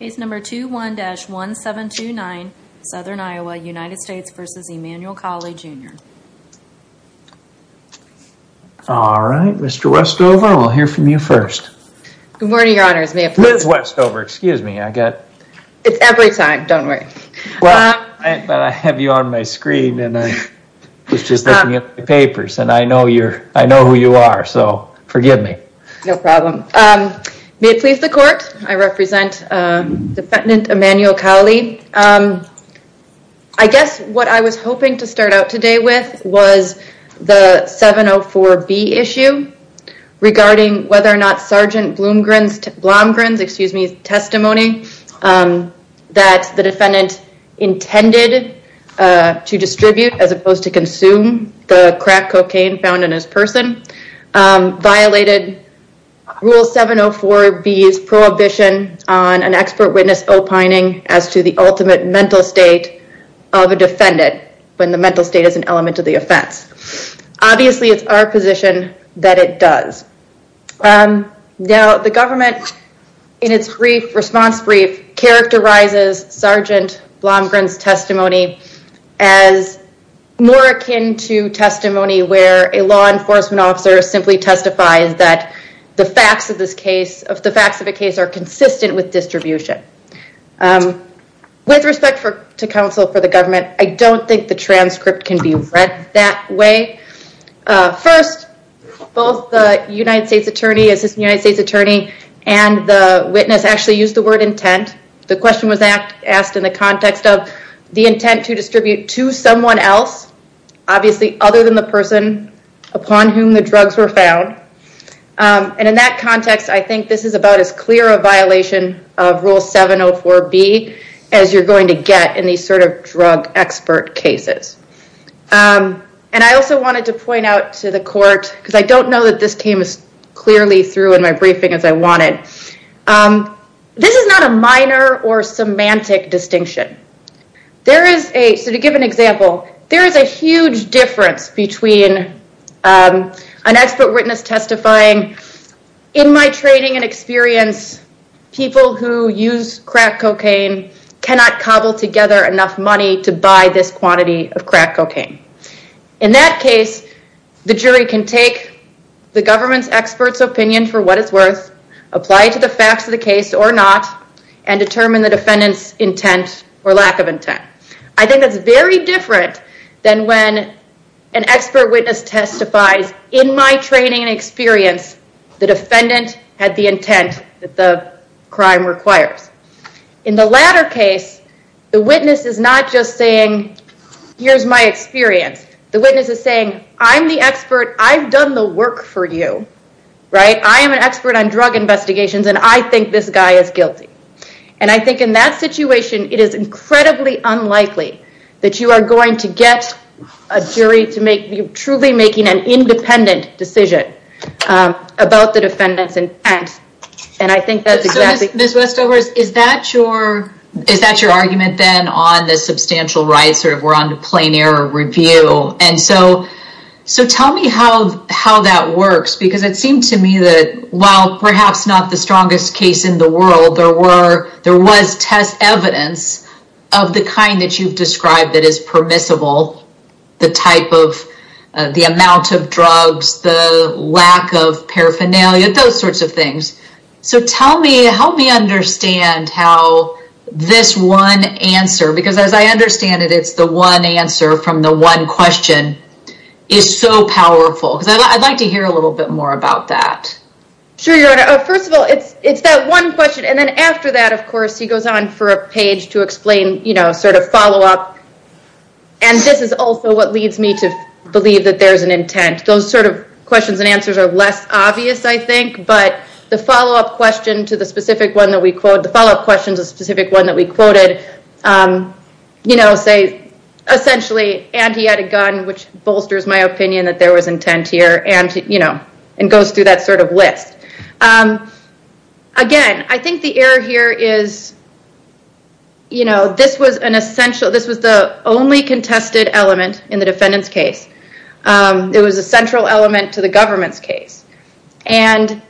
Case number 21-1729, Southern Iowa, United States v. Emanuel Cowley, Jr. All right, Mr. Westover, we'll hear from you first. Good morning, Your Honors, may I please- Liz Westover, excuse me, I got- It's every time, don't worry. Well, I have you on my screen and I was just looking at the papers and I know who you are, so forgive me. No problem. May it please the court, I represent Defendant Emanuel Cowley. I guess what I was hoping to start out today with was the 704B issue regarding whether or not Sergeant Blomgren's testimony that the defendant intended to distribute as opposed to consume the crack cocaine found in his person violated Rule 704B's prohibition on an expert witness opining as to the ultimate mental state of a defendant when the mental state is an element of the offense. Obviously, it's our position that it does. Now, the government in its response brief characterizes Sergeant Blomgren's testimony as more akin to testimony where a law enforcement officer simply testifies that the facts of this case, of the facts of the case, are consistent with distribution. With respect to counsel for the government, I don't think the transcript can be read that way. First, both the United States Attorney, Assistant United States Attorney, and the witness actually used the word intent. The question was asked in the context of the intent to distribute to someone else, obviously other than the person upon whom the drugs were found. In that context, I think this is about as clear a violation of Rule 704B as you're going to get in these drug expert cases. I also wanted to point out to the court, because I don't know that this came as clearly through in my briefing as I wanted. This is not a minor or semantic distinction. There is a, so to give an example, there is a huge difference between an expert witness testifying, in my training and experience, people who use crack cocaine cannot cobble together enough money to buy this quantity of crack cocaine. In that case, the jury can take the government's expert's opinion for what it's worth, apply to the facts of the case or not, and determine the defendant's intent or lack of intent. I think that's very different than when an expert witness testifies, in my training and experience the defendant had the intent that the crime requires. In the latter case, the witness is not just saying, here's my experience. The witness is saying, I'm the expert, I've done the work for you, right? I am an expert on drug investigations and I think this guy is guilty. I think in that situation, it is incredibly unlikely that you are going to get a jury to make, truly making an independent decision about the defendant's intent. I think that's exactly- Ms. Westovers, is that your argument then on the substantial rights or if we're on the plain error review? Tell me how that works because it seemed to me that while perhaps not the strongest case in the world, there was test evidence of the kind that you've described that is permissible, the type of, the amount of drugs, the lack of paraphernalia, those sorts of things. Tell me, help me understand how this one answer, because as I understand it, it's the one answer from the one question, is so powerful because I'd like to hear a little bit more about that. Sure, Your Honor. First of all, it's that one question and then after that, of course, he goes on for a page to explain, sort of follow up and this is also what leads me to believe that there's an intent. Those sort of questions and answers are less obvious, I think, but the follow up question to the specific one that we quote, the follow up question to the specific one that we quoted, say essentially, and he had a gun, which bolsters my opinion that there was intent here and goes through that sort of list. Again, I think the error here is, this was an essential, this was the only contested element in the defendant's case. It was a central element to the government's case and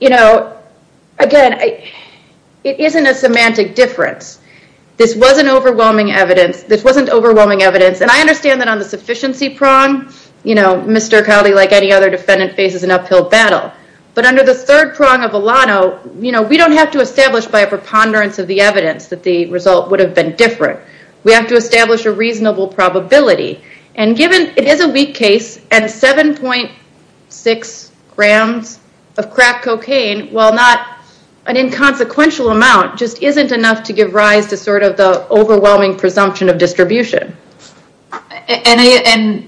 again, it isn't a semantic difference. This wasn't overwhelming evidence and I understand that on the sufficiency prong, Mr. Cowley, like any other defendant, faces an uphill battle, but under the third prong of Alano, we don't have to establish by a preponderance of the evidence that the result would have been different. We have to establish a reasonable probability and given it is a weak case and 7.6 grams of crack cocaine, while not an inconsequential amount, just isn't enough to give rise to sort of the overwhelming presumption of distribution. I'm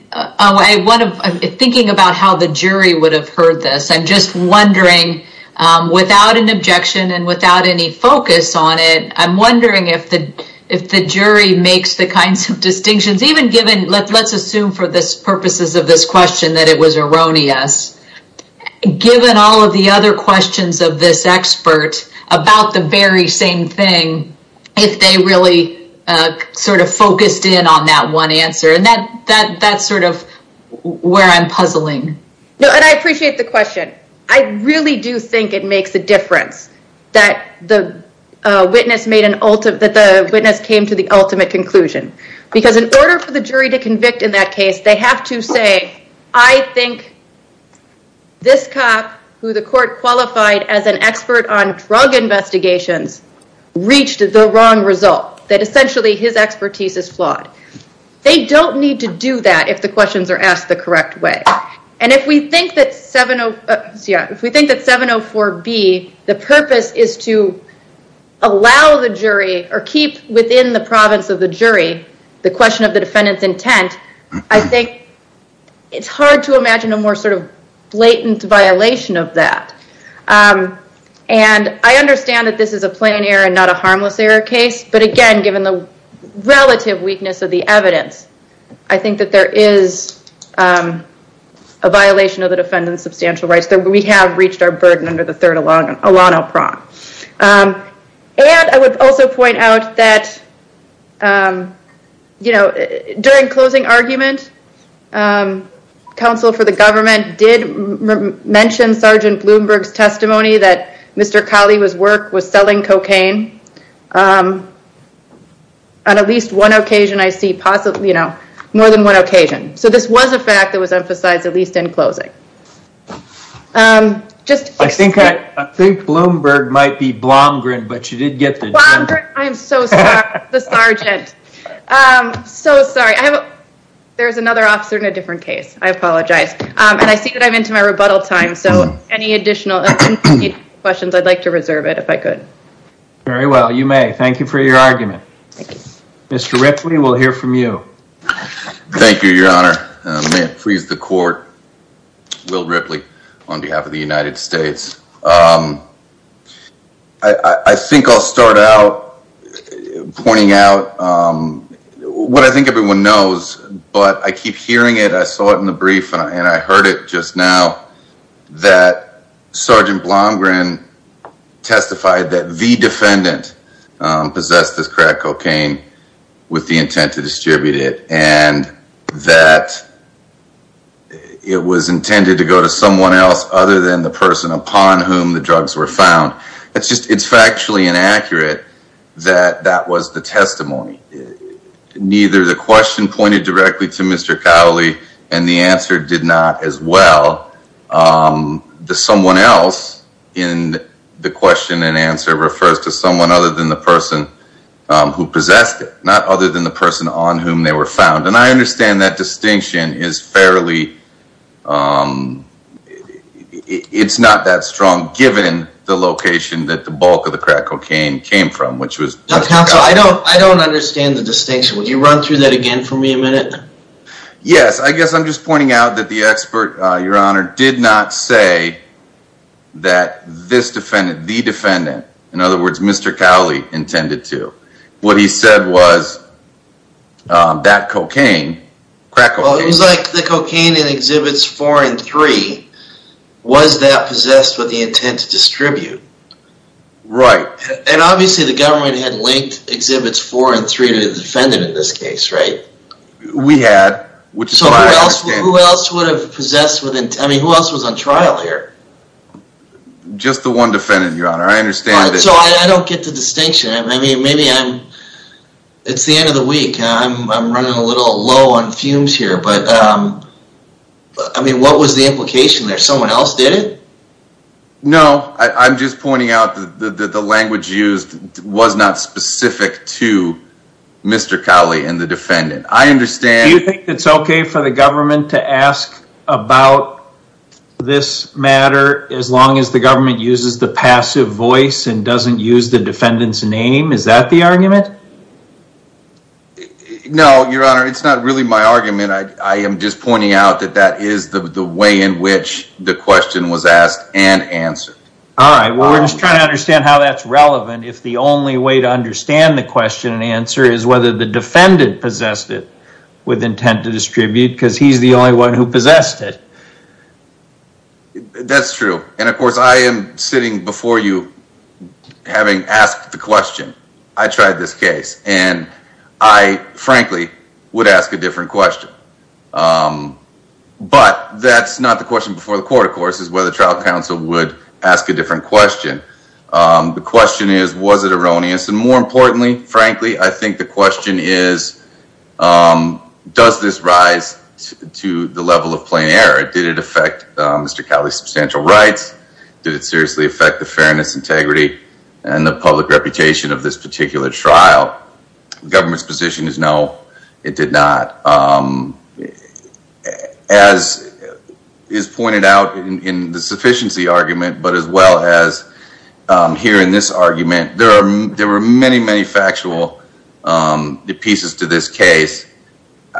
thinking about how the jury would have heard this. I'm just wondering, without an objection and without any focus on it, I'm wondering if the jury makes the kinds of distinctions, even given, let's assume for the purposes of this question that it was erroneous, given all of the other questions of this expert about the very same thing, if they really sort of focused in on that one answer. That's sort of where I'm puzzling. No, and I appreciate the question. I really do think it makes a difference that the witness came to the ultimate conclusion, because in order for the jury to convict in that case, they have to say, I think this cop who the court qualified as an expert on drug investigations reached the wrong result, that essentially his expertise is flawed. They don't need to do that if the questions are asked the correct way. If we think that 704B, the purpose is to allow the jury or keep within the province of the jury the question of the defendant's intent, I think it's hard to imagine a more sort of blatant violation of that. I understand that this is a plain error and not a harmless error case, but again, given the relative weakness of the evidence, I think that there is a violation of the defendant's substantial rights that we have reached our burden under the third Alano Prompt. And I would also point out that during closing argument, counsel for the government did mention Sgt. Bloomberg's testimony that Mr. Colley's work was selling cocaine on at least one occasion I see possibly, you know, more than one occasion. So this was a fact that was emphasized at least in closing. I think Bloomberg might be Blomgren, but you did get the- Blomgren. I am so sorry. The sergeant. I'm so sorry. There's another officer in a different case. I apologize. And I see that I'm into my rebuttal time, so any additional questions, I'd like to reserve it if I could. Very well. You may. Thank you for your argument. Thank you. Mr. Ripley, we'll hear from you. Thank you, Your Honor. May it please the court, Will Ripley on behalf of the United States. I think I'll start out pointing out what I think everyone knows, but I keep hearing it. I saw it in the brief and I heard it just now that Sergeant Blomgren testified that the defendant possessed this crack cocaine with the intent to distribute it and that it was intended to go to someone else other than the person upon whom the drugs were found. It's factually inaccurate that that was the testimony. Neither the question pointed directly to Mr. Cowley and the answer did not as well. Someone else in the question and answer refers to someone other than the person who possessed it, not other than the person on whom they were found. And I understand that distinction is fairly, it's not that strong given the location that the bulk of the crack cocaine came from. Counsel, I don't understand the distinction. Would you run through that again for me a minute? Yes, I guess I'm just pointing out that the expert, Your Honor, did not say that this defendant, the defendant, in other words, Mr. Cowley, intended to. What he said was that cocaine, crack cocaine. Well, it was like the cocaine in Exhibits 4 and 3. Was that possessed with the intent to distribute? Right. And obviously the government had linked Exhibits 4 and 3 to the defendant in this case, right? We had. Which is why I understand. So who else would have possessed with intent, I mean, who else was on trial here? Just the one defendant, Your Honor. I understand that. So I don't get the distinction. I mean, maybe I'm, it's the end of the week and I'm running a little low on fumes here, but I mean, what was the implication there? Someone else did it? No. I'm just pointing out that the language used was not specific to Mr. Cowley and the defendant. I understand. Do you think it's okay for the government to ask about this matter as long as the government uses the passive voice and doesn't use the defendant's name? Is that the argument? I mean, I am just pointing out that that is the way in which the question was asked and answered. All right. Well, we're just trying to understand how that's relevant if the only way to understand the question and answer is whether the defendant possessed it with intent to distribute because he's the only one who possessed it. That's true. And of course, I am sitting before you having asked the question. I tried this case and I frankly would ask a different question. But that's not the question before the court, of course, is whether trial counsel would ask a different question. The question is, was it erroneous? And more importantly, frankly, I think the question is, does this rise to the level of plain error? Did it affect Mr. Cowley's substantial rights? Did it seriously affect the fairness, integrity, and the public reputation of this particular trial? The government's position is no, it did not. As is pointed out in the sufficiency argument, but as well as here in this argument, there were many, many factual pieces to this case.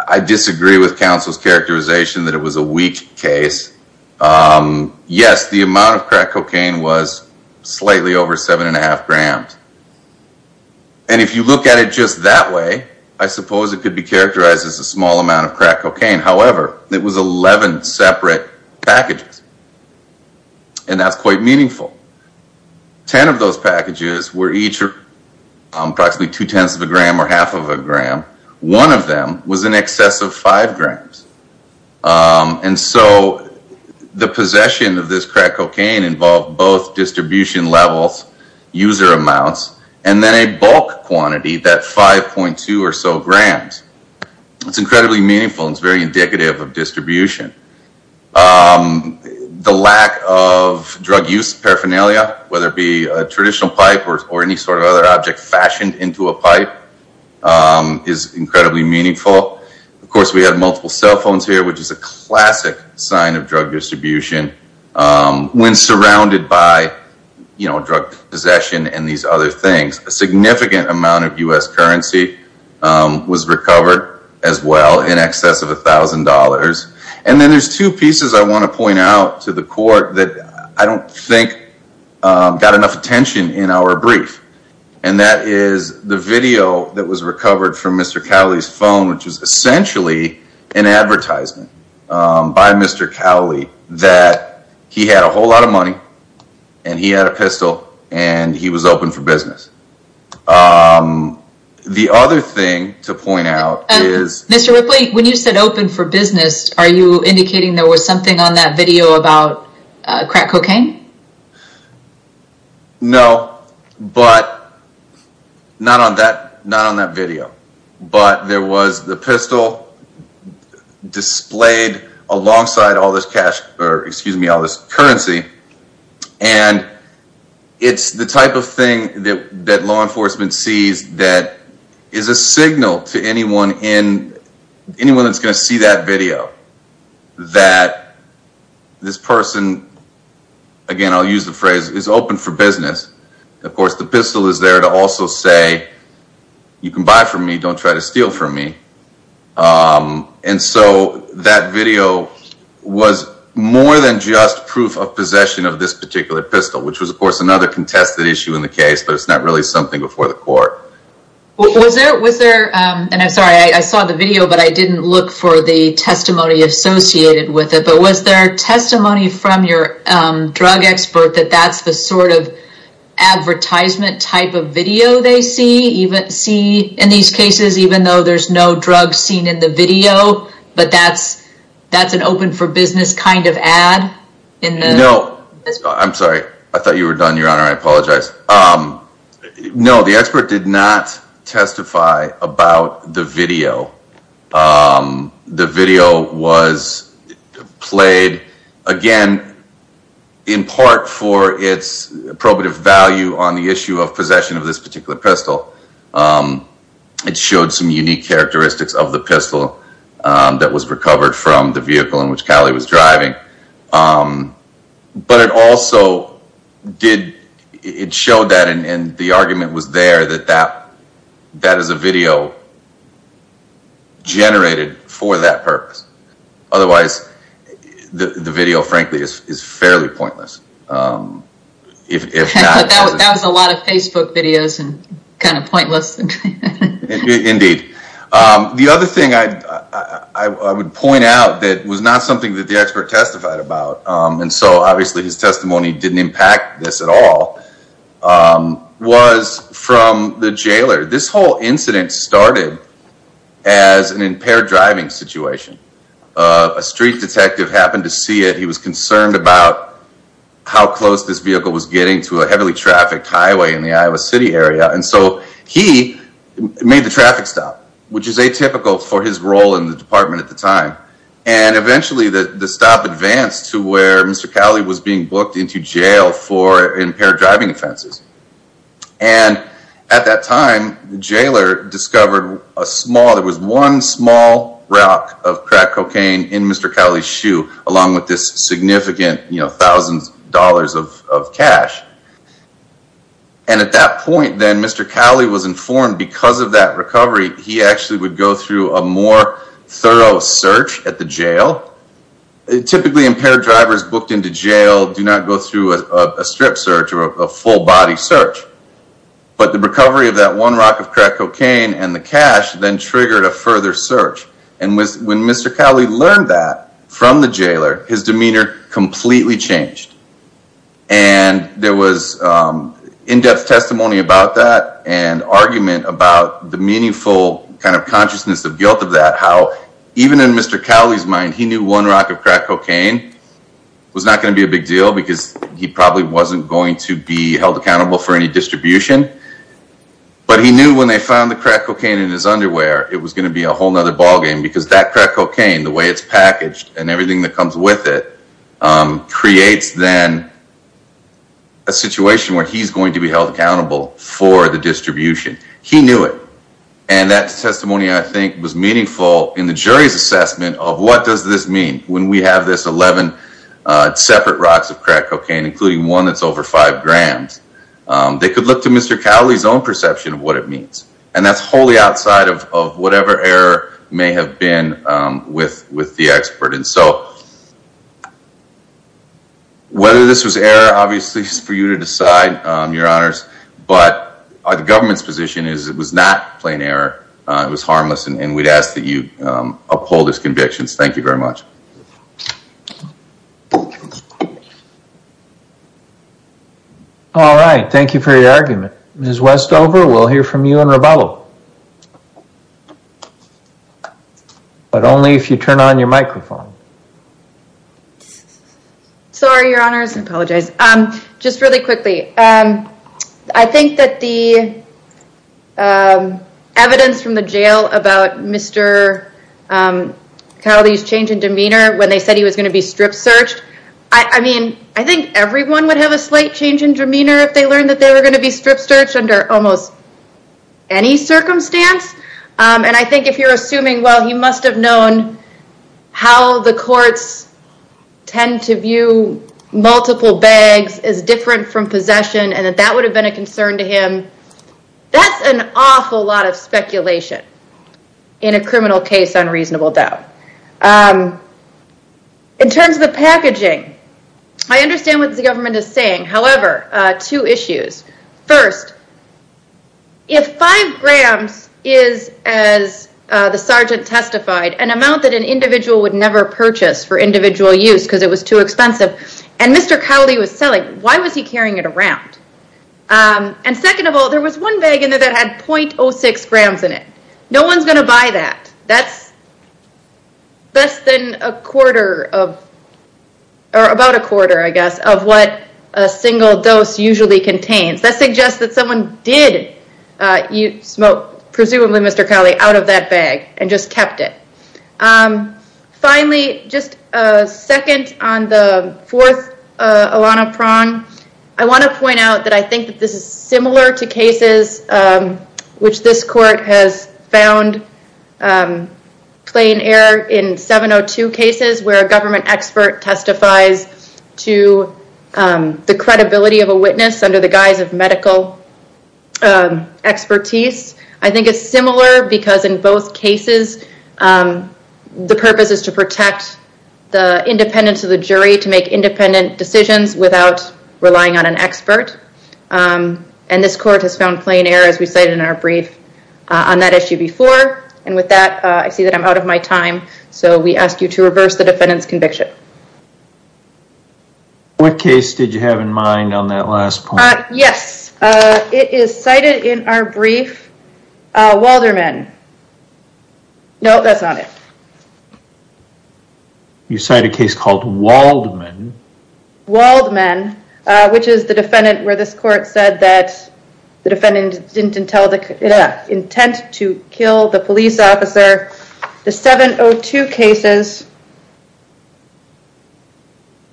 I disagree with counsel's characterization that it was a weak case. Yes, the amount of crack cocaine was slightly over seven and a half grams. And if you look at it just that way, I suppose it could be characterized as a small amount of crack cocaine. However, it was 11 separate packages. And that's quite meaningful. Ten of those packages were each approximately two-tenths of a gram or half of a gram. One of them was in excess of five grams. And so, the possession of this crack cocaine involved both distribution levels, user amounts, and then a bulk quantity, that 5.2 or so grams. It's incredibly meaningful and it's very indicative of distribution. The lack of drug use paraphernalia, whether it be a traditional pipe or any sort of other object fashioned into a pipe, is incredibly meaningful. Of course, we have multiple cell phones here, which is a classic sign of drug distribution. When surrounded by drug possession and these other things, a significant amount of U.S. currency was recovered as well in excess of $1,000. And then there's two pieces I want to point out to the court that I don't think got enough attention in our brief. And that is the video that was recovered from Mr. Cowley's phone, which is essentially an advertisement by Mr. Cowley that he had a whole lot of money, and he had a pistol, and he was open for business. The other thing to point out is... Mr. Ripley, when you said open for business, are you indicating there was something on that video about crack cocaine? No, but not on that video. But there was the pistol displayed alongside all this cash, or excuse me, all this currency. And it's the type of thing that law enforcement sees that is a signal to anyone that's going to see that video that this person, again, I'll use the phrase, is open for business. Of course, the pistol is there to also say, you can buy from me, don't try to steal from me. And so that video was more than just proof of possession of this particular pistol, which was, of course, another contested issue in the case, but it's not really something before the court. Was there, and I'm sorry, I saw the video, but I didn't look for the testimony associated with it, but was there testimony from your drug expert that that's the sort of advertisement type of video they see in these cases, even though there's no drug seen in the video, but that's an open for business kind of ad? No, I'm sorry. I apologize. No, the expert did not testify about the video. The video was played, again, in part for its probative value on the issue of possession of this particular pistol. It showed some unique characteristics of the pistol that was recovered from the vehicle in which Cali was driving. But it also did, it showed that, and the argument was there, that that is a video generated for that purpose. Otherwise, the video, frankly, is fairly pointless. That was a lot of Facebook videos and kind of pointless. Indeed. The other thing I would point out that was not something that the expert testified about, and so obviously his testimony didn't impact this at all, was from the jailer. This whole incident started as an impaired driving situation. A street detective happened to see it. He was concerned about how close this vehicle was getting to a heavily trafficked highway in the Iowa City area, and so he made the traffic stop, which is atypical for his role in the department at the time. And eventually the stop advanced to where Mr. Cali was being booked into jail for impaired driving offenses. And at that time, the jailer discovered a small, there was one small rock of crack cocaine in Mr. Cali's shoe, along with this significant, you know, thousands of dollars of cash. And at that point then, Mr. Cali was informed because of that recovery, he actually would go through a more thorough search at the jail. Typically impaired drivers booked into jail do not go through a strip search or a full body search, but the recovery of that one rock of crack cocaine and the cash then triggered a further search. And when Mr. Cali learned that from the jailer, his demeanor completely changed. And there was in-depth testimony about that and argument about the meaningful kind of consciousness of guilt of that, how even in Mr. Cali's mind, he knew one rock of crack cocaine was not going to be a big deal because he probably wasn't going to be held accountable for any distribution. But he knew when they found the crack cocaine in his underwear, it was going to be a whole other ballgame because that crack cocaine, the way it's packaged and everything that comes with it, creates then a situation where he's going to be held accountable for the distribution. He knew it. And that testimony, I think, was meaningful in the jury's assessment of what does this mean? When we have this 11 separate rocks of crack cocaine, including one that's over five grams, they could look to Mr. Cali's own perception of what it means. And that's wholly outside of whatever error may have been with the expert. And so whether this was error, obviously, it's for you to decide, Your Honors. But the government's position is it was not plain error. It was harmless. And we'd ask that you uphold his convictions. Thank you very much. All right. Thank you for your argument. Ms. Westover, we'll hear from you in a moment. Ms. Reballo. But only if you turn on your microphone. Sorry, Your Honors. I apologize. Just really quickly. I think that the evidence from the jail about Mr. Cali's change in demeanor when they said he was going to be strip searched, I mean, I think everyone would have a slight change in demeanor if they learned that they were going to be strip searched under almost any circumstance. And I think if you're assuming, well, he must have known how the courts tend to view multiple bags as different from possession, and that that would have been a concern to him. That's an awful lot of speculation in a criminal case on reasonable doubt. In terms of the packaging, I understand what the government is saying. However, two issues. First, if five grams is, as the sergeant testified, an amount that an individual would never purchase for individual use because it was too expensive, and Mr. Cali was selling, why was he carrying it around? And second of all, there was one bag in there that had .06 grams in it. No one's going to buy that. That's less than a quarter of, or about a quarter, I guess, of what a single dose usually contains. That suggests that someone did smoke, presumably Mr. Cali, out of that bag and just kept it. Finally, just a second on the fourth Alana Prahn. I want to point out that I think that this is similar to cases, which this court has found plain error in 702 cases, where a government expert testifies to the credibility of a witness under the guise of medical expertise. I think it's similar because in both cases, the purpose is to protect the independence of the jury to make independent decisions without relying on an expert, and this court has found plain error, as we cited in our brief, on that issue before. And with that, I see that I'm out of my time, so we ask you to reverse the defendant's conviction. What case did you have in mind on that last point? Yes. It is cited in our brief, Walderman. No, that's not it. You cite a case called Waldman. Waldman, which is the defendant where this court said that the defendant didn't intend to kill the police officer. The 702 cases,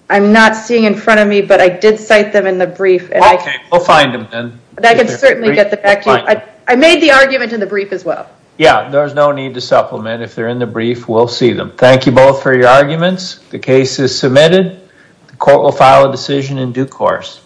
I'm not seeing in front of me, but I did cite them in the brief. Okay. We'll find them then. I can certainly get the facts. I made the argument in the brief as well. Yeah. There's no need to supplement. If they're in the brief, we'll see them. Thank you both for your arguments. The case is submitted. The court will file a decision in due course.